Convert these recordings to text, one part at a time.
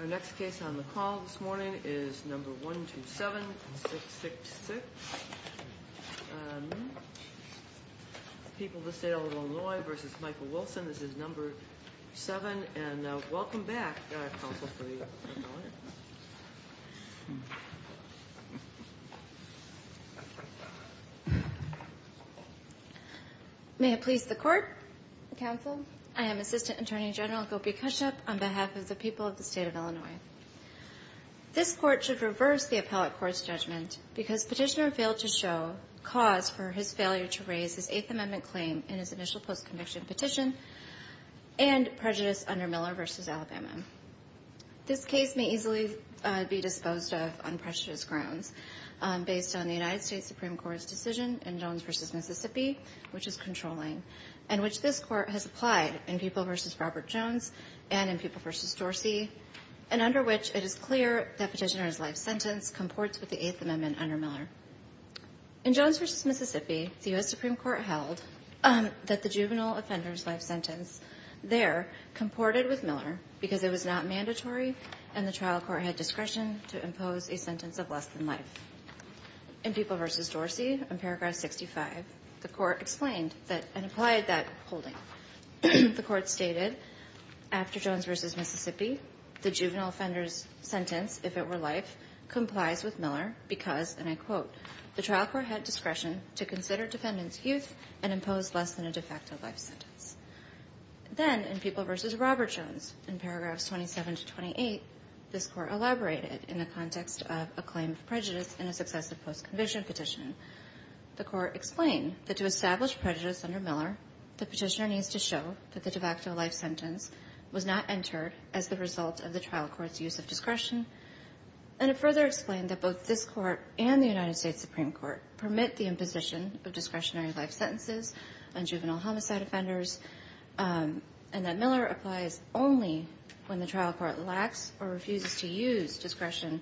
Our next case on the call this morning is number 127666. People of the State of Illinois v. Michael Wilson. This is number 7. And welcome back, counsel, for the hearing. May it please the court, counsel. I am Assistant Attorney General Gopi Kashyap on behalf of the people of the State of Illinois. This court should reverse the appellate court's judgment because petitioner failed to show cause for his failure to raise his Eighth Amendment claim in his initial post-conviction petition and prejudice under Miller v. Alabama. This case may easily be disposed of on prejudice grounds based on the United States Supreme Court's decision in Jones v. Mississippi, which is controlling, and which this court has applied in People v. Robert Jones and in People v. Dorsey, and under which it is clear that petitioner's life sentence comports with the Eighth Amendment under Miller. In Jones v. Mississippi, the U.S. Supreme Court held that the juvenile offender's life sentence there comported with Miller because it was not mandatory and the trial court had discretion to impose a sentence of less than life. In People v. Dorsey, in paragraph 65, the court explained that and applied that holding. The court stated, after Jones v. Mississippi, the juvenile offender's sentence, if it were life, complies with Miller because, and I quote, the trial court had discretion to consider defendant's youth and impose less than a de facto life sentence. Then, in People v. Robert Jones, in paragraphs 27 to 28, this court elaborated in the context of a claim of prejudice in a successive post-conviction petition. The court explained that to establish prejudice under Miller, the petitioner needs to show that the de facto life sentence was not entered as the result of the trial court's use of discretion, and it further explained that both this court and the United States Supreme Court permit the imposition of discretionary life sentences on juvenile homicide offenders, and that Miller applies only when the trial court lacks or refuses to use discretion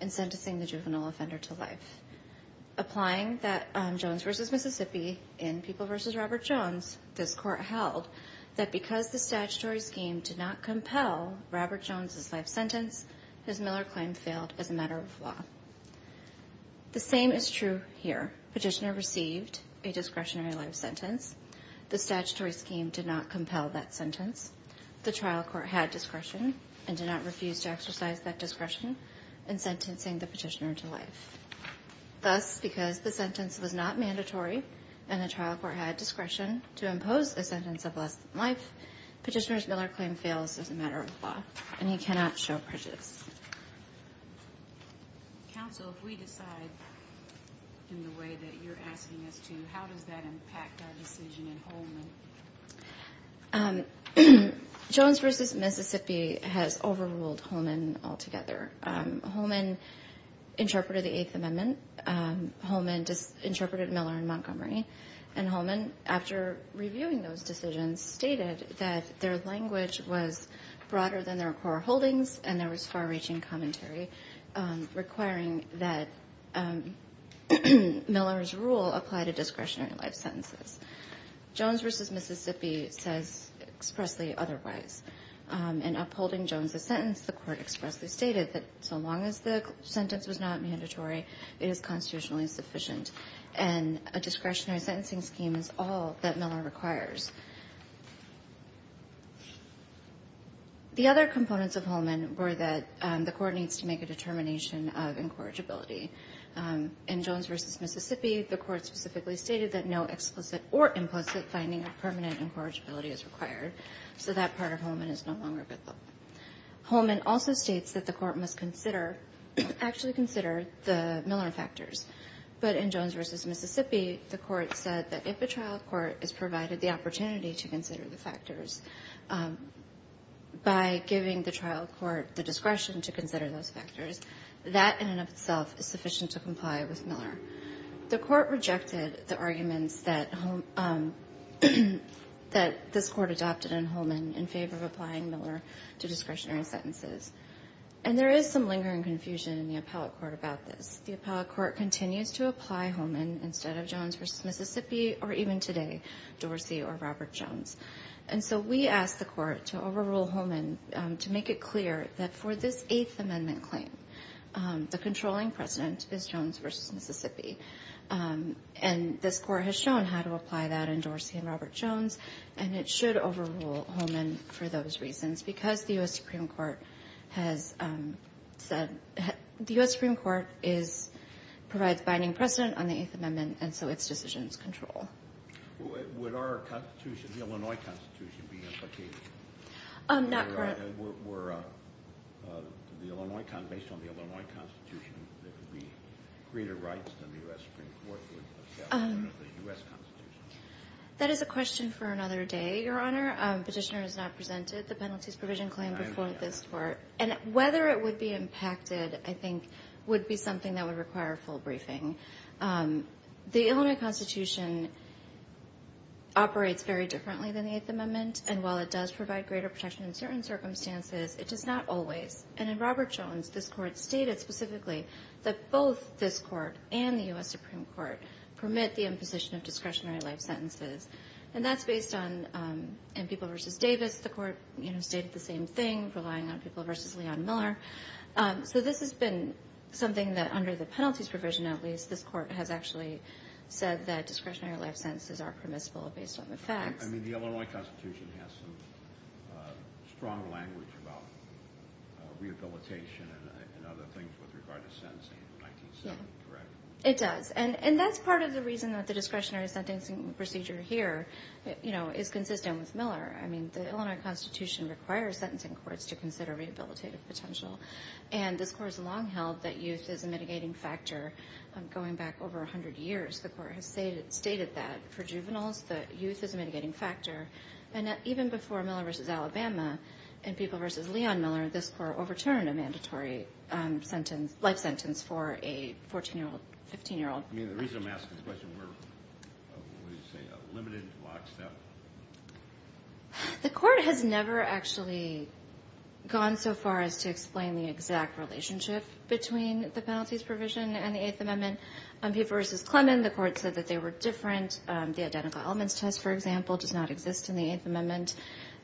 in sentencing the juvenile offender to life. Applying that Jones v. Mississippi, in People v. Robert Jones, this court held that because the statutory scheme did not compel Robert Jones's life sentence, his Miller claim failed as a matter of law. The same is true here. Petitioner received a discretionary life sentence. The statutory scheme did not compel that sentence. The trial court had discretion and did not refuse to exercise that discretion in sentencing the petitioner to life. Thus, because the sentence was not mandatory and the trial court had discretion to impose a sentence of less than life, petitioner's Miller claim fails as a matter of law, and he cannot show prejudice. Counsel, if we decide in the way that you're asking us to, how does that impact our decision in Holman? The other components of Holman were that the court did not impose a discretionary life sentence. The court did not impose a discretionary life sentence. The court did not impose a discretionary life sentence. The other components of Holman were that the court needs to make a determination of incorrigibility. In Jones v. Mississippi, the court specifically stated that no explicit or implicit finding of permanent incorrigibility is required, so that part of Holman is no longer good law. Holman also states that the court must consider, actually consider, the Miller factors. But in Jones v. Mississippi, the court said that if a trial court is provided the opportunity to consider the factors by giving the trial court the discretion to consider those factors, that in and of itself is sufficient to comply with Miller. The court rejected the arguments that this court adopted in Holman in favor of applying Miller to discretionary sentences. And there is some lingering confusion in the appellate court about this. The appellate court continues to apply Holman instead of Jones v. Mississippi, or even today, Dorsey or Robert Jones. And so we ask the court to overrule Holman to make it clear that for this Eighth Amendment claim, the controlling precedent is Jones v. Mississippi. And this court has shown how to apply that in Dorsey and Robert Jones, and it should overrule Holman for those reasons, because the U.S. Supreme Court has said the U.S. Supreme Court provides binding precedent on the Eighth Amendment, and so its decisions control. Would our Constitution, the Illinois Constitution, be implicated? Not currently. Based on the Illinois Constitution, there could be greater rights than the U.S. Supreme Court would accept under the U.S. Constitution. That is a question for another day, Your Honor. Petitioner has not presented the penalties provision claim before this court. And whether it would be impacted, I think, would be something that would require a full briefing. The Illinois Constitution operates very differently than the Eighth Amendment, and while it does provide greater protection in certain circumstances, it does not always. And in Robert Jones, this court stated specifically that both this court and the U.S. Supreme Court permit the imposition of discretionary life sentences. And that's based on, in People v. Davis, the court stated the same thing, relying on People v. Leon Miller. So this has been something that, under the penalties provision at least, this court has actually said that discretionary life sentences are permissible based on the facts. I mean, the Illinois Constitution has some strong language about rehabilitation and other things with regard to sentencing in 1970, correct? It does. And that's part of the reason that the discretionary sentencing procedure here is consistent with Miller. I mean, the Illinois Constitution requires sentencing courts to consider rehabilitative potential. And this court has long held that youth is a mitigating factor. Going back over 100 years, the court has stated that for juveniles, that youth is a mitigating factor. And even before Miller v. Alabama and People v. Leon Miller, this court overturned a mandatory life sentence for a 14-year-old, 15-year-old. I mean, the reason I'm asking this question, we're, what do you say, a limited lockstep? The court has never actually gone so far as to explain the exact relationship between the penalties provision and the Eighth Amendment. People v. Clement, the court said that they were different. The identical elements test, for example, does not exist in the Eighth Amendment.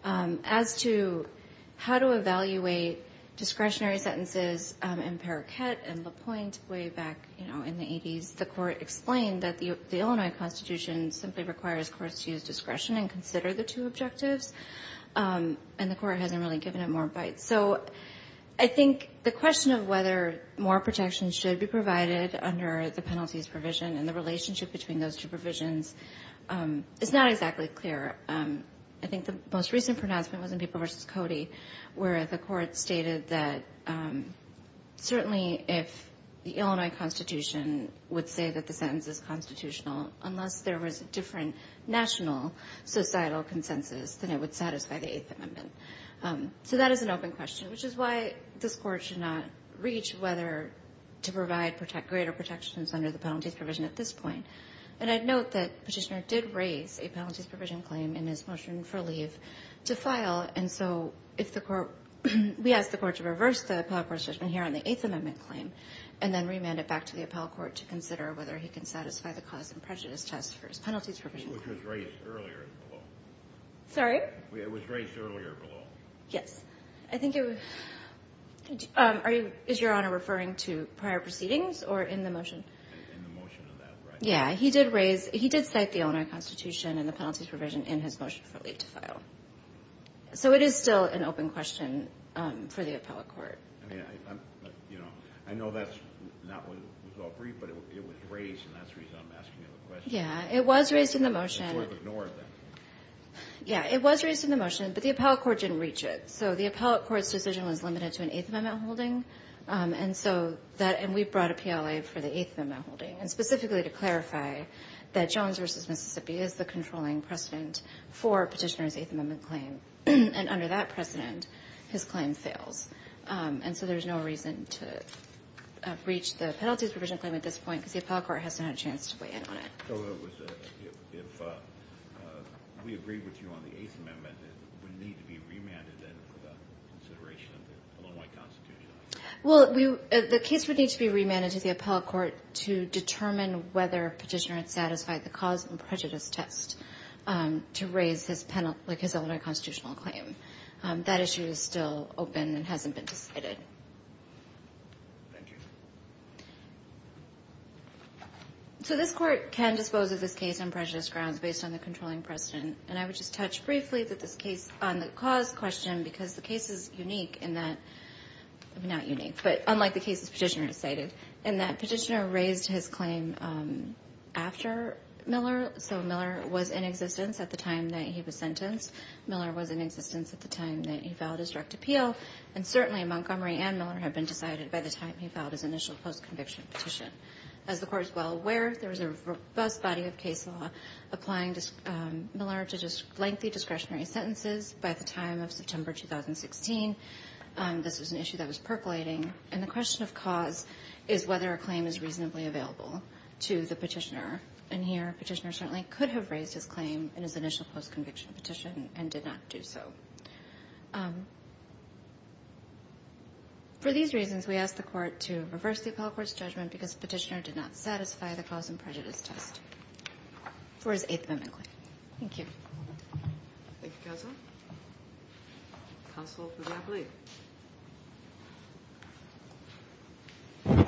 As to how to evaluate discretionary sentences in Periquet and LaPointe way back, you know, in the 80s, the court explained that the Illinois Constitution simply requires courts to use discretion and consider the two objectives. And the court hasn't really given it more bite. So I think the question of whether more protection should be provided under the penalties provision and the relationship between those two provisions is not exactly clear. I think the most recent pronouncement was in People v. Cody, where the court stated that certainly if the Illinois Constitution would say that the sentence is constitutional, unless there was a different national societal consensus, then it would satisfy the Eighth Amendment. So that is an open question, which is why this court should not reach whether to provide greater protections under the penalties provision at this point. And I'd note that Petitioner did raise a penalties provision claim in his motion for leave to file. And so if the court — we asked the court to reverse the appellate court's judgment here on the Eighth Amendment claim and then remand it back to the appellate court to consider whether he can satisfy the cause and prejudice test for his penalties provision claim. Which was raised earlier in the law. Sorry? It was raised earlier in the law. Yes. I think it was — are you — is Your Honor referring to prior proceedings or in the motion? In the motion on that, right? Yeah, he did raise — he did cite the Illinois Constitution and the penalties provision in his motion for leave to file. So it is still an open question for the appellate court. I mean, I'm — you know, I know that's not what was all briefed, but it was raised, and that's the reason I'm asking you the question. Yeah, it was raised in the motion. So I've ignored that. Yeah, it was raised in the motion, but the appellate court didn't reach it. So the appellate court's decision was limited to an Eighth Amendment holding. And so that — and we brought a PLA for the Eighth Amendment holding. And specifically to clarify that Jones v. Mississippi is the controlling precedent for Petitioner's Eighth Amendment claim. And under that precedent, his claim fails. And so there's no reason to breach the penalties provision claim at this point because the appellate court hasn't had a chance to weigh in on it. So it was — if we agreed with you on the Eighth Amendment, it would need to be remanded then for the consideration of the Illinois Constitution? Well, the case would need to be remanded to the appellate court to determine whether Petitioner had satisfied the cause and prejudice test to raise his penalty — like his Illinois Constitutional claim. That issue is still open and hasn't been decided. Thank you. So this court can dispose of this case on prejudice grounds based on the controlling precedent. And I would just touch briefly on the cause question because the case is unique in that — not unique, but unlike the cases Petitioner has cited — in that Petitioner raised his claim after Miller. So Miller was in existence at the time that he was sentenced. Miller was in existence at the time that he filed his direct appeal. And certainly Montgomery and Miller had been decided by the time he filed his initial post-conviction petition. As the court is well aware, there was a robust body of case law applying Miller to lengthy discretionary sentences by the time of September 2016. This was an issue that was percolating. And the question of cause is whether a claim is reasonably available to the Petitioner. And here, Petitioner certainly could have raised his claim in his initial post-conviction petition and did not do so. For these reasons, we ask the court to reverse the appellate court's judgment because Petitioner did not satisfy the cause and prejudice test for his Eighth Amendment claim. Thank you, Counsel. Counsel for the appellate.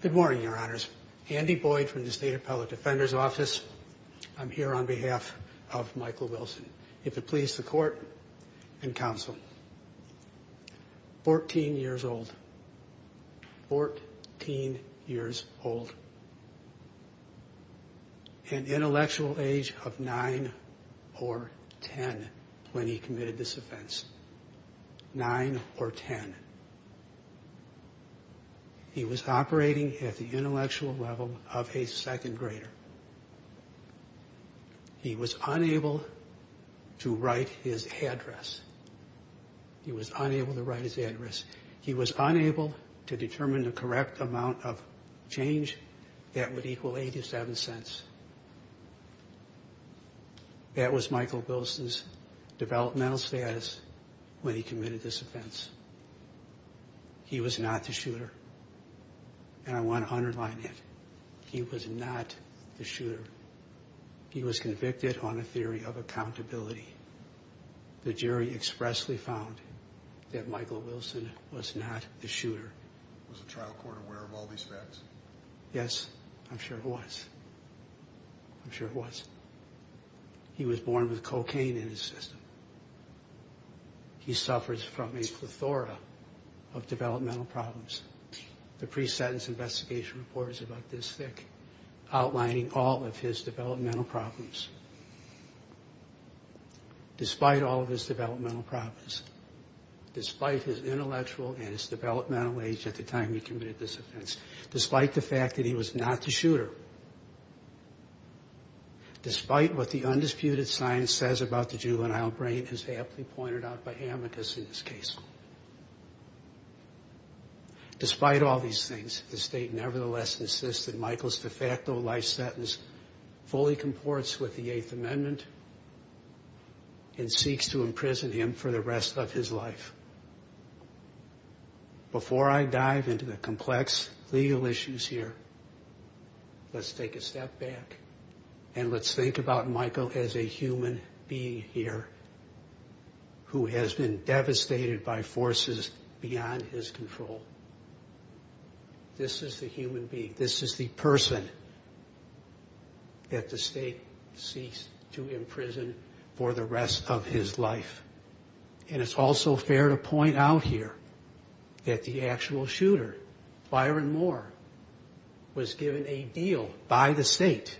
Good morning, Your Honors. Andy Boyd from the State Appellate Defender's Office. I'm here on behalf of Michael Wilson. If it please the Court and Counsel. Fourteen years old. Fourteen years old. An intellectual age of nine or ten when he committed this offense. Nine or ten. Nine or ten. He was operating at the intellectual level of a second grader. He was unable to write his address. He was unable to write his address. He was unable to determine the correct amount of change that would equal 87 cents. That was Michael Wilson's developmental status when he committed this offense. He was not the shooter. And I want to underline it. He was not the shooter. He was convicted on a theory of accountability. The jury expressly found that Michael Wilson was not the shooter. Was the trial court aware of all these facts? Yes, I'm sure it was. Yes, I'm sure it was. He was born with cocaine in his system. He suffers from a plethora of developmental problems. The pre-sentence investigation report is about this thick, outlining all of his developmental problems. Despite all of his developmental problems, despite his intellectual and his developmental age at the time he committed this offense, despite the fact that he was not the shooter, despite what the undisputed science says about the juvenile brain as aptly pointed out by Amicus in this case, despite all these things, the state nevertheless insists that Michael's de facto life sentence fully comports with the Eighth Amendment and seeks to imprison him for the rest of his life. Before I dive into the complex legal issues here, let's take a step back and let's think about Michael as a human being here who has been devastated by forces beyond his control. This is the human being. This is the person that the state seeks to imprison for the rest of his life. And it's also fair to point out here that the actual shooter, Byron Moore, was given a deal by the state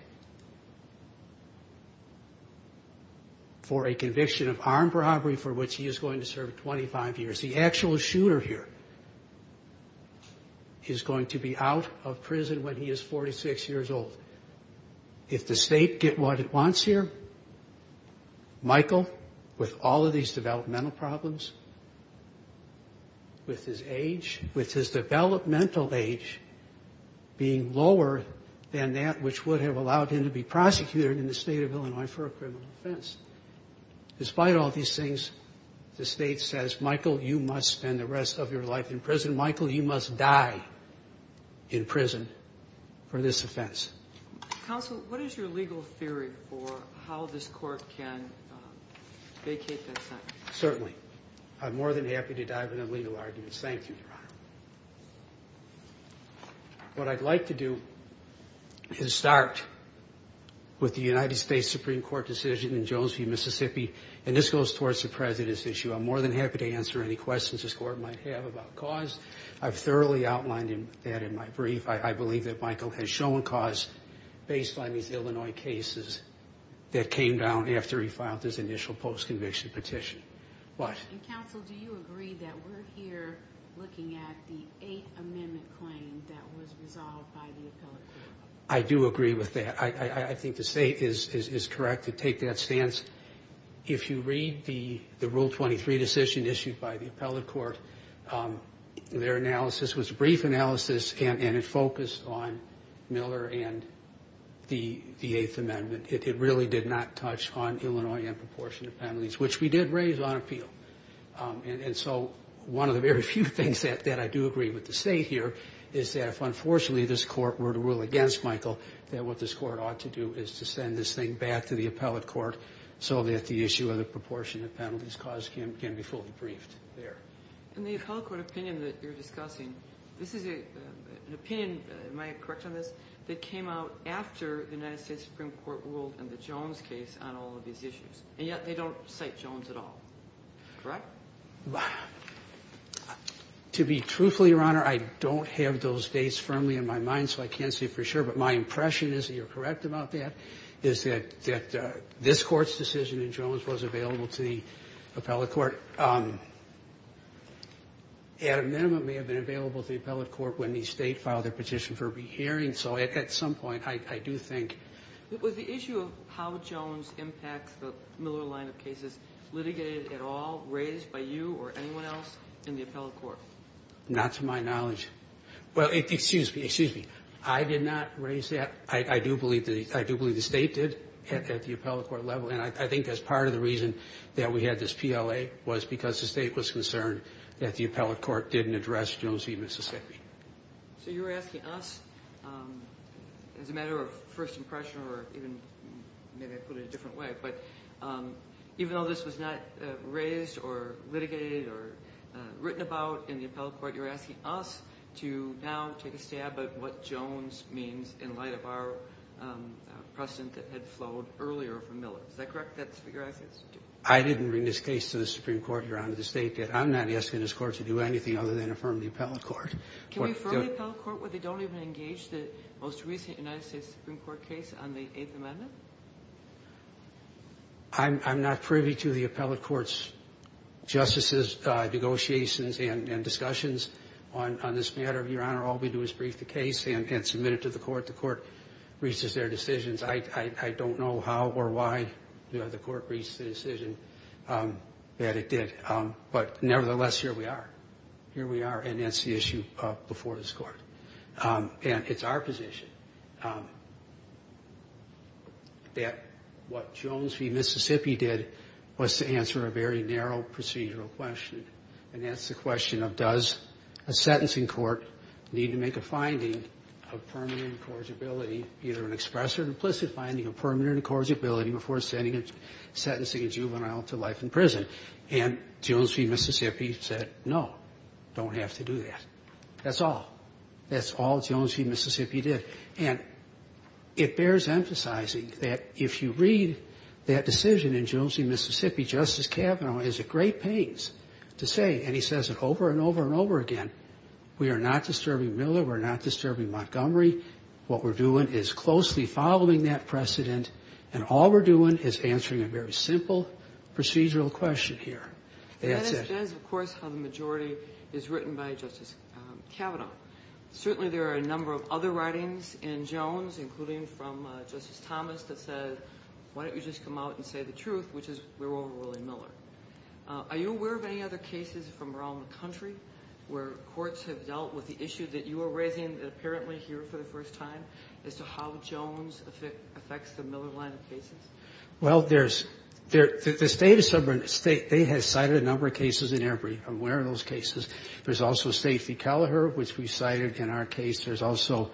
for a conviction of armed robbery for which he is going to serve 25 years. The actual shooter here is going to be out of prison when he is 46 years old. If the state get what it wants here, Michael, with all of these developmental problems, with his age, with his developmental age being lower than that which would have allowed him to be prosecuted in the state of Illinois for a criminal offense, despite all these things, the state says, Michael, you must spend the rest of your life in prison. Michael, you must die in prison for this offense. Counsel, what is your legal theory for how this court can vacate that sentence? Certainly. I'm more than happy to dive into legal arguments. Thank you, Your Honor. What I'd like to do is start with the United States Supreme Court decision in Jonesview, Mississippi, and this goes towards the President's issue. I'm more than happy to answer any questions this Court might have about cause. I've thoroughly outlined that in my brief. I believe that Michael has shown cause based on these Illinois cases that came down after he filed his initial post-conviction petition. Counsel, do you agree that we're here looking at the Eighth Amendment claim that was resolved by the appellate court? I do agree with that. I think the state is correct to take that stance. If you read the Rule 23 decision issued by the appellate court, their analysis was a brief analysis, and it focused on Miller and the Eighth Amendment. It really did not touch on Illinois in proportion to penalties, which we did raise on appeal. And so one of the very few things that I do agree with the state here is that if, unfortunately, this Court were to rule against Michael, that what this Court ought to do is to send this thing back to the appellate court so that the issue of the proportion of penalties caused can be fully briefed there. In the appellate court opinion that you're discussing, this is an opinion, am I correct on this, that came out after the United States Supreme Court ruled in the Jones case on all of these issues, and yet they don't cite Jones at all, correct? To be truthful, Your Honor, I don't have those dates firmly in my mind, so I can't say for sure, but my impression is that you're correct about that, is that this Court's decision in Jones was available to the appellate court. The Eighth Amendment may have been available to the appellate court when the State filed their petition for a rehearing. So at some point, I do think the issue of how Jones impacts the Miller line of cases, was litigated at all, raised by you or anyone else in the appellate court? Not to my knowledge. Well, excuse me, excuse me. I did not raise that. I do believe the State did at the appellate court level, and I think that's part of the reason that we had this PLA, was because the State was concerned that the appellate court didn't address Jones v. Mississippi. So you're asking us, as a matter of first impression or even, maybe I'd put it a different way, but even though this was not raised or litigated or written about in the appellate court, you're asking us to now take a stab at what Jones means in light of our precedent that had flowed earlier from Miller. Is that correct? I didn't bring this case to the Supreme Court, Your Honor, the State did. I'm not asking this Court to do anything other than affirm the appellate court. Can we affirm the appellate court when they don't even engage the most recent United States Supreme Court case on the Eighth Amendment? I'm not privy to the appellate court's justices' negotiations and discussions on this matter, Your Honor. All we do is brief the case and submit it to the court. The court reaches their decisions. I don't know how or why the court reached the decision that it did. But nevertheless, here we are. Here we are, and that's the issue before this Court. And it's our position that what Jones v. Mississippi did was to answer a very narrow procedural question, and that's the question of does a sentencing court need to make a finding of permanent incorrigibility, either an express or an implicit finding of permanent incorrigibility, before sentencing a juvenile to life in prison. And Jones v. Mississippi said no, don't have to do that. That's all. That's all Jones v. Mississippi did. And it bears emphasizing that if you read that decision in Jones v. Mississippi, Justice Kavanaugh has a great pains to say, and he says it over and over and over again, we are not disturbing Miller, we are not disturbing Montgomery. What we're doing is closely following that precedent, and all we're doing is answering a very simple procedural question here. That's it. That is, of course, how the majority is written by Justice Kavanaugh. Certainly there are a number of other writings in Jones, including from Justice Thomas, that says why don't you just come out and say the truth, which is we're over Willie Miller. Are you aware of any other cases from around the country where courts have dealt with the issue that you are raising apparently here for the first time, as to how Jones affects the Miller line of cases? Well, the state has cited a number of cases in their brief. I'm aware of those cases. There's also Stacey Kelleher, which we cited in our case. There's also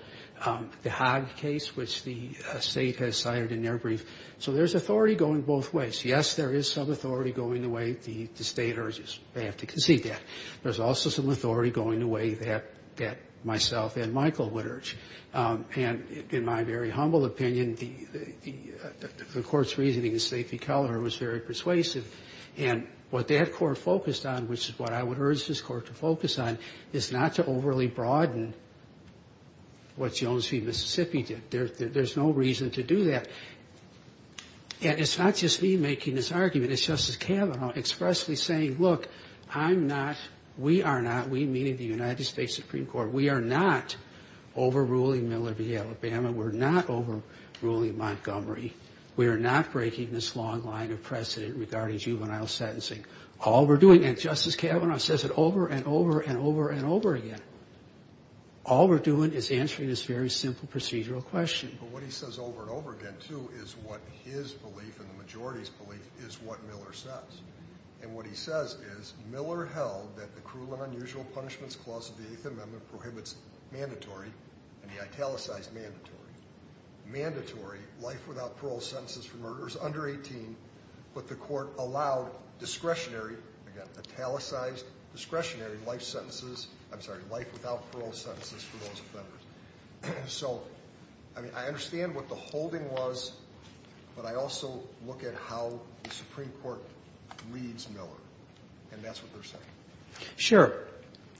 the Hogg case, which the state has cited in their brief. So there's authority going both ways. Yes, there is some authority going the way the state urges. They have to concede that. There's also some authority going the way that myself and Michael would urge. And in my very humble opinion, the Court's reasoning in Stacey Kelleher was very persuasive. And what that Court focused on, which is what I would urge this Court to focus on, is not to overly broaden what Jones v. Mississippi did. There's no reason to do that. And it's not just me making this argument. It's Justice Kavanaugh expressly saying, look, I'm not, we are not, we, meaning the United States Supreme Court, we are not overruling Miller v. Alabama. We're not overruling Montgomery. We are not breaking this long line of precedent regarding juvenile sentencing. All we're doing, and Justice Kavanaugh says it over and over and over and over again, all we're doing is answering this very simple procedural question. But what he says over and over again, too, is what his belief and the majority's belief is what Miller says. And what he says is Miller held that the cruel and unusual punishments clause of the Eighth Amendment prohibits mandatory, and he italicized mandatory, mandatory life without parole sentences for murderers under 18, but the Court allowed discretionary, again, italicized discretionary life sentences, I'm sorry, life without parole sentences for those offenders. So, I mean, I understand what the holding was, but I also look at how the Supreme Court reads Miller, and that's what they're saying. Sure.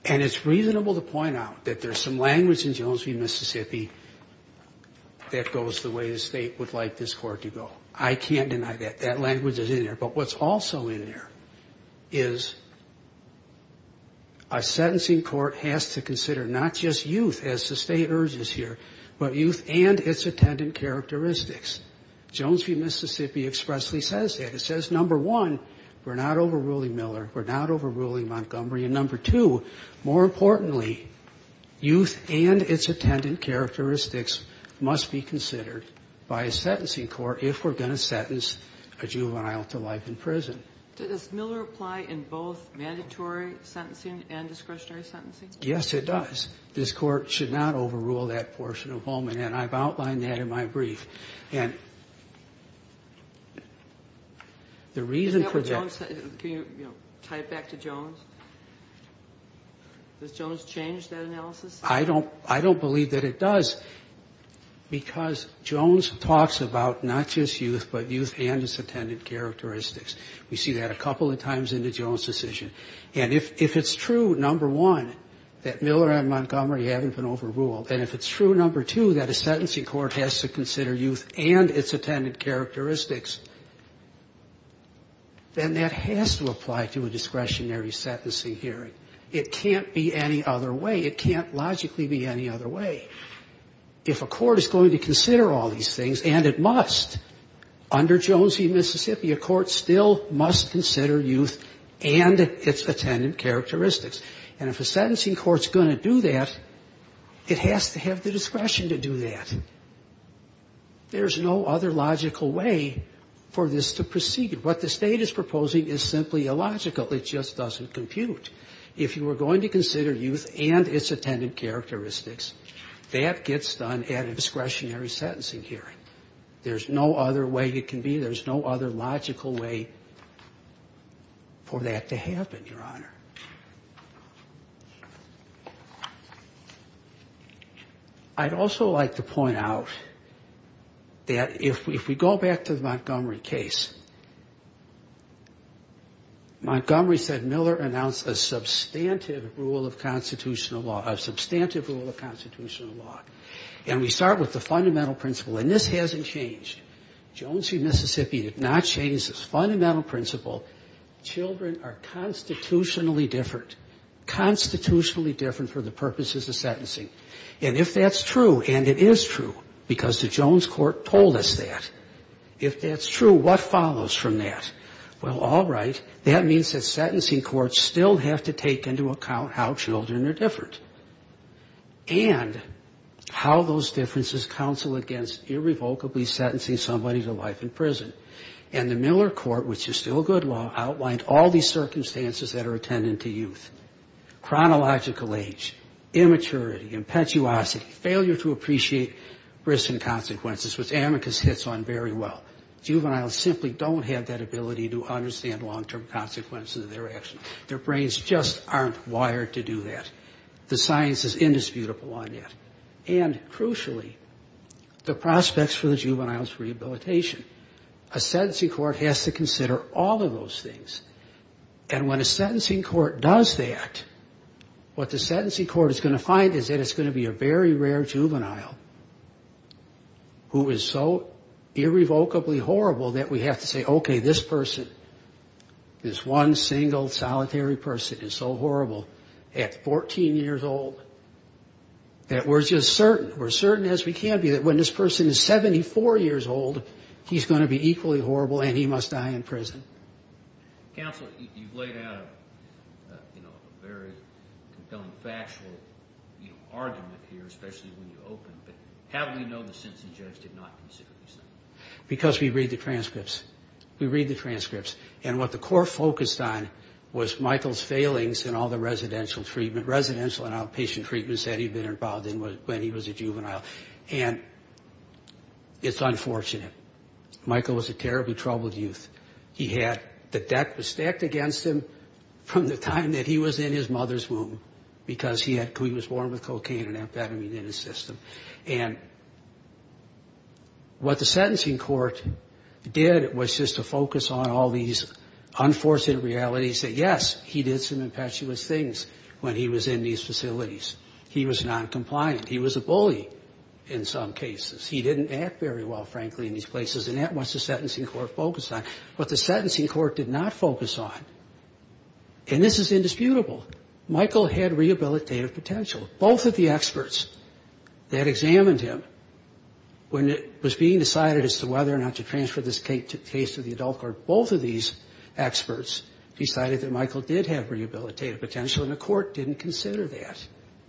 And it's reasonable to point out that there's some language in Jones v. Mississippi that goes the way the State would like this Court to go. I can't deny that. That language is in there. But what's also in there is a sentencing court has to consider not just youth, as the State urges here, but youth and its attendant characteristics. Jones v. Mississippi expressly says that. It says, number one, we're not overruling Miller, we're not overruling Montgomery, and number two, more importantly, youth and its attendant characteristics must be considered by a sentencing court if we're going to sentence a juvenile to life in prison. Does Miller apply in both mandatory sentencing and discretionary sentencing? Yes, it does. This Court should not overrule that portion of Holman, and I've outlined that in my brief. And the reason for that Can you tie it back to Jones? Does Jones change that analysis? I don't believe that it does, because Jones talks about not just youth, but youth and its attendant characteristics. We see that a couple of times in the Jones decision. And if it's true, number one, that Miller and Montgomery haven't been overruled, and if it's true, number two, that a sentencing court has to consider youth and its attendant characteristics, then that has to apply to a discretionary sentencing hearing. It can't be any other way. It can't logically be any other way. If a court is going to consider all these things, and it must, under Jones v. Mississippi, a court still must consider youth and its attendant characteristics. And if a sentencing court's going to do that, it has to have the discretion to do that. There's no other logical way for this to proceed. What the State is proposing is simply illogical. It just doesn't compute. If you are going to consider youth and its attendant characteristics, that gets done at a discretionary sentencing hearing. There's no other way it can be. There's no other logical way for that to happen, Your Honor. I'd also like to point out that if we go back to the Montgomery case, Montgomery said Miller announced a substantive rule of constitutional law. A substantive rule of constitutional law. And we start with the fundamental principle, and this hasn't changed. Jones v. Mississippi did not change this fundamental principle. Children are constitutionally different, constitutionally different for the purposes of sentencing. And if that's true, and it is true, because the Jones court told us that, if that's true, what follows from that? Well, all right. That means that sentencing courts still have to take into account how children are different and how those differences counsel against irrevocably sentencing somebody to life in prison. And the Miller court, which is still a good law, outlined all these circumstances that are attendant to youth. Chronological age, immaturity, impetuosity, failure to appreciate risks and consequences, which amicus hits on very well. Juveniles simply don't have that ability to understand long-term consequences of their actions. Their brains just aren't wired to do that. The science is indisputable on that. And, crucially, the prospects for the juvenile's rehabilitation. A sentencing court has to consider all of those things. And when a sentencing court does that, what the sentencing court is going to find is that it's going to be a very rare juvenile who is so irrevocably horrible that we have to say, okay, this person, this one single solitary person is so horrible at 14 years old that we're just certain, we're certain as we can be, that when this person is 74 years old, he's going to be equally horrible and he must die in prison. Counsel, you've laid out a very compelling factual argument here, especially when you open, but how do we know the sentencing judge did not consider these things? Because we read the transcripts. We read the transcripts. And what the court focused on was Michael's failings in all the residential and outpatient treatments that he'd been involved in when he was a juvenile. And it's unfortunate. Michael was a terribly troubled youth. The debt was stacked against him from the time that he was in his mother's womb because he was born with cocaine and amphetamine in his system. And what the sentencing court did was just to focus on all these unforeseen realities that, yes, he did some impetuous things when he was in these facilities. He was noncompliant. He was a bully in some cases. He didn't act very well, frankly, in these places. And that's what the sentencing court focused on. What the sentencing court did not focus on, and this is indisputable, Michael had rehabilitative potential. Both of the experts that examined him, when it was being decided as to whether or not to transfer this case to the adult court, both of these experts decided that Michael did have rehabilitative potential, and the court didn't consider that.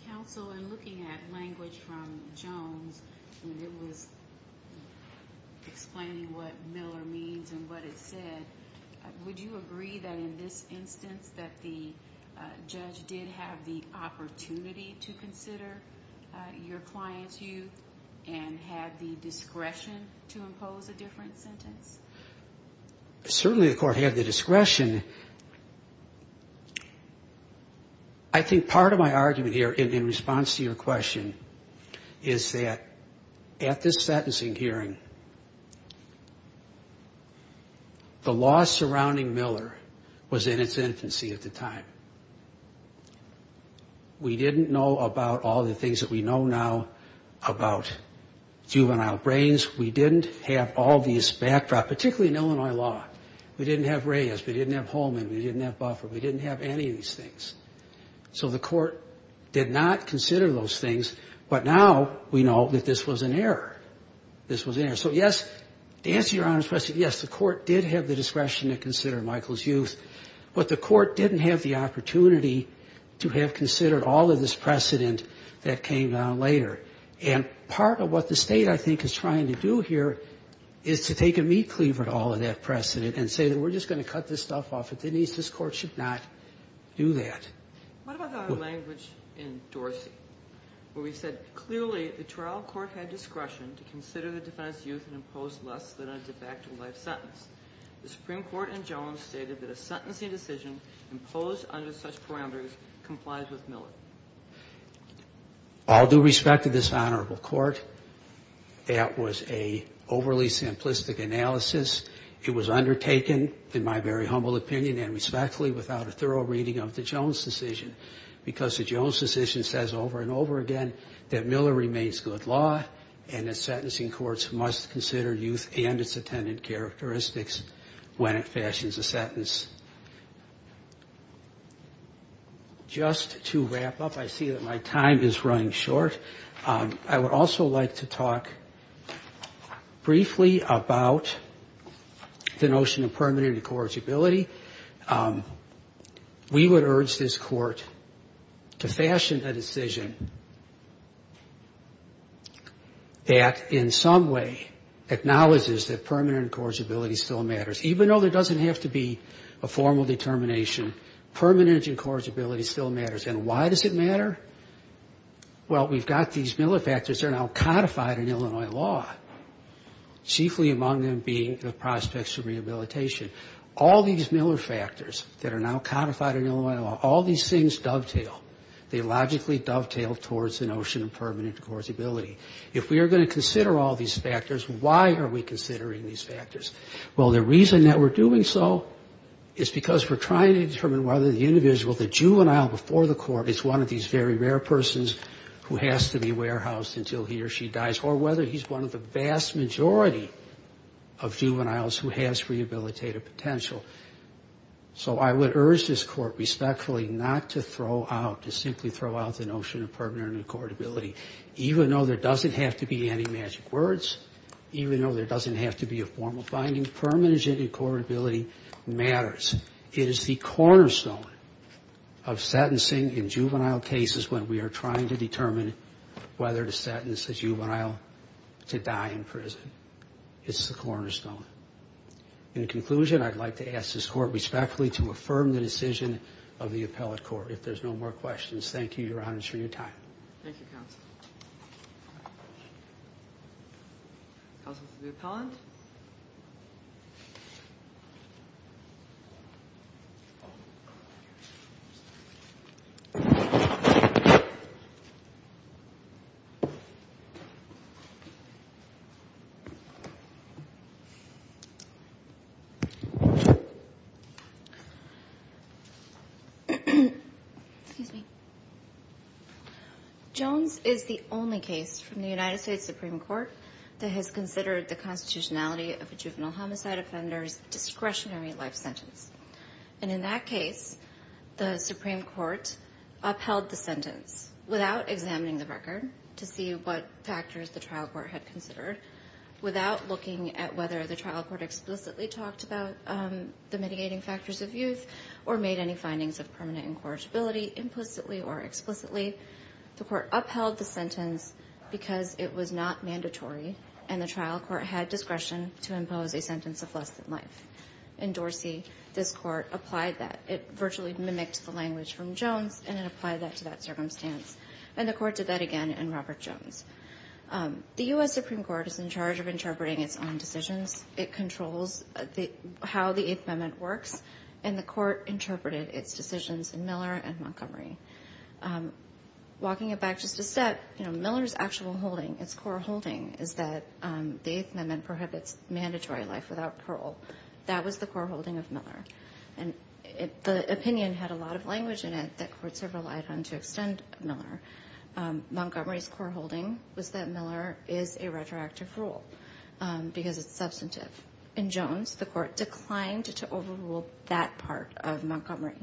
Counsel, in looking at language from Jones, when it was explaining what Miller means and what it said, would you agree that in this instance that the judge did have the opportunity to consider your client's youth and had the discretion to impose a different sentence? Certainly the court had the discretion. I think part of my argument here in response to your question is that at this sentencing hearing, the law surrounding Miller was in its infancy at the time. We didn't know about all the things that we know now about juvenile brains. We didn't have all these backdrops, particularly in Illinois law. We didn't have Reyes. We didn't have Holman. We didn't have Buffer. We didn't have any of these things. So the court did not consider those things, but now we know that this was an error. This was an error. So, yes, to answer your Honor's question, yes, the court did have the discretion to consider Michael's youth, but the court didn't have the opportunity to have considered all of this precedent that came down later, and part of what the state, I think, is trying to do here is to take a meat cleaver at all in that precedent and say that we're just going to cut this stuff off. At the end of the day, this court should not do that. What about the other language in Dorsey where we said, clearly the trial court had discretion to consider the defendant's youth and impose less than a de facto life sentence. The Supreme Court in Jones stated that a sentencing decision imposed under such parameters complies with Miller. All due respect to this honorable court, that was an overly simplistic analysis. It was undertaken in my very humble opinion and respectfully without a thorough reading of the Jones decision because the Jones decision says over and over again that Miller remains good law and that sentencing courts must consider youth and its attendant characteristics when it fashions a sentence. Just to wrap up, I see that my time is running short. I would also like to talk briefly about the notion of permanent incorrigibility. We would urge this court to fashion a decision that in some way acknowledges that permanent incorrigibility still matters. Even though there doesn't have to be a formal determination, permanent incorrigibility still matters. And why does it matter? Well, we've got these Miller factors that are now codified in Illinois law, chiefly among them being the prospects of rehabilitation. All these Miller factors that are now codified in Illinois law, all these things dovetail. They logically dovetail towards the notion of permanent incorrigibility. If we are going to consider all these factors, why are we considering these factors? Well, the reason that we're doing so is because we're trying to determine whether the individual, the juvenile before the court, is one of these very rare persons who has to be warehoused until he or she dies, or whether he's one of the vast majority of juveniles who has rehabilitative potential. So I would urge this court respectfully not to throw out, to simply throw out the notion of permanent incorrigibility. Even though there doesn't have to be any magic words, even though there doesn't have to be a formal finding, permanent incorrigibility matters. It is the cornerstone of sentencing in juvenile cases when we are trying to determine whether to sentence a juvenile to die in prison. It's the cornerstone. In conclusion, I'd like to ask this court respectfully to affirm the decision of the appellate court. If there's no more questions, thank you, Your Honor, for your time. Thank you, counsel. Counsel to the appellant. Excuse me. Jones is the only case from the United States Supreme Court that has considered the constitutionality of a juvenile homicide offender's discretionary life sentence. And in that case, the Supreme Court upheld the sentence without examining the record to see what factors the trial court had considered, without looking at whether the trial court explicitly talked about the mitigating factors of youth or made any findings of permanent incorrigibility implicitly or explicitly. The court upheld the sentence because it was not mandatory and the trial court had discretion to impose a sentence of less than life. In Dorsey, this court applied that. It virtually mimicked the language from Jones and it applied that to that circumstance. And the court did that again in Robert Jones. The U.S. Supreme Court is in charge of interpreting its own decisions. It controls how the Eighth Amendment works, and the court interpreted its decisions in Miller and Montgomery. Walking it back just a step, you know, Miller's actual holding, its core holding, is that the Eighth Amendment prohibits mandatory life without parole. That was the core holding of Miller. And the opinion had a lot of language in it that courts have relied on to extend Miller. Montgomery's core holding was that Miller is a retroactive rule because it's substantive. In Jones, the court declined to overrule that part of Montgomery.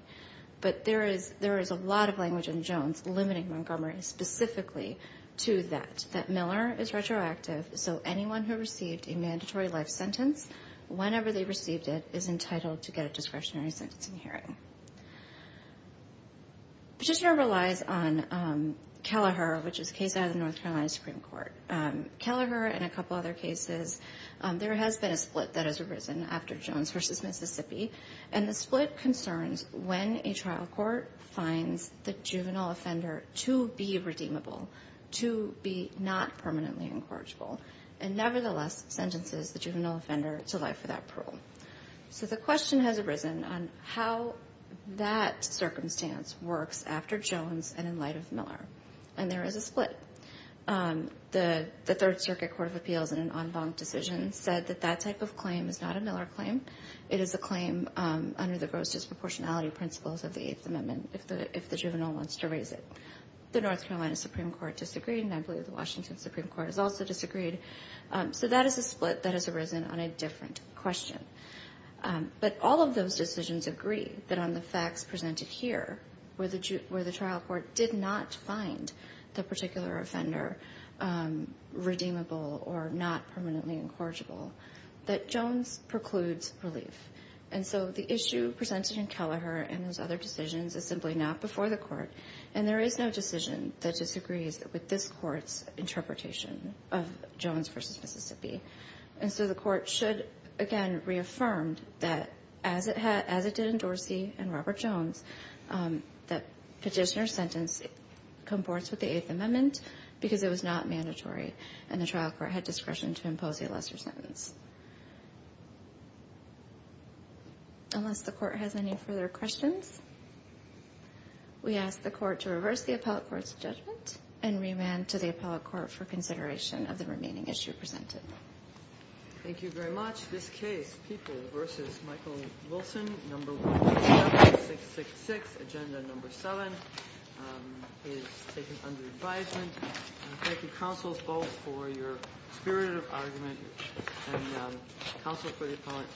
But there is a lot of language in Jones limiting Montgomery specifically to that, that Miller is retroactive so anyone who received a mandatory life sentence, whenever they received it, is entitled to get a discretionary sentence in hearing. Petitioner relies on Kelleher, which is a case out of the North Carolina Supreme Court. Kelleher and a couple other cases, there has been a split that has arisen after Jones v. Mississippi. And the split concerns when a trial court finds the juvenile offender to be redeemable, to be not permanently incorrigible, and nevertheless sentences the juvenile offender to life without parole. So the question has arisen on how that circumstance works after Jones and in light of Miller. And there is a split. The Third Circuit Court of Appeals in an en banc decision said that that type of claim is not a Miller claim. It is a claim under the gross disproportionality principles of the Eighth Amendment if the juvenile wants to raise it. The North Carolina Supreme Court disagreed, and I believe the Washington Supreme Court has also disagreed. So that is a split that has arisen on a different question. But all of those decisions agree that on the facts presented here, where the trial court did not find the particular offender redeemable or not permanently incorrigible, that Jones precludes relief. And so the issue presented in Kelleher and those other decisions is simply not before the court. And there is no decision that disagrees with this court's interpretation of Jones v. Mississippi. And so the court should, again, reaffirm that, as it did in Dorsey and Robert Jones, that petitioner's sentence comports with the Eighth Amendment because it was not mandatory and the trial court had discretion to impose a lesser sentence. Unless the court has any further questions, we ask the court to reverse the appellate court's judgment and remand to the appellate court for consideration of the remaining issue presented. Thank you very much. This case, Peoples v. Michael Wilson, No. 17666, Agenda No. 7, is taken under advisement. Thank you, counsels, both for your spirit of argument and counsel for the appellate.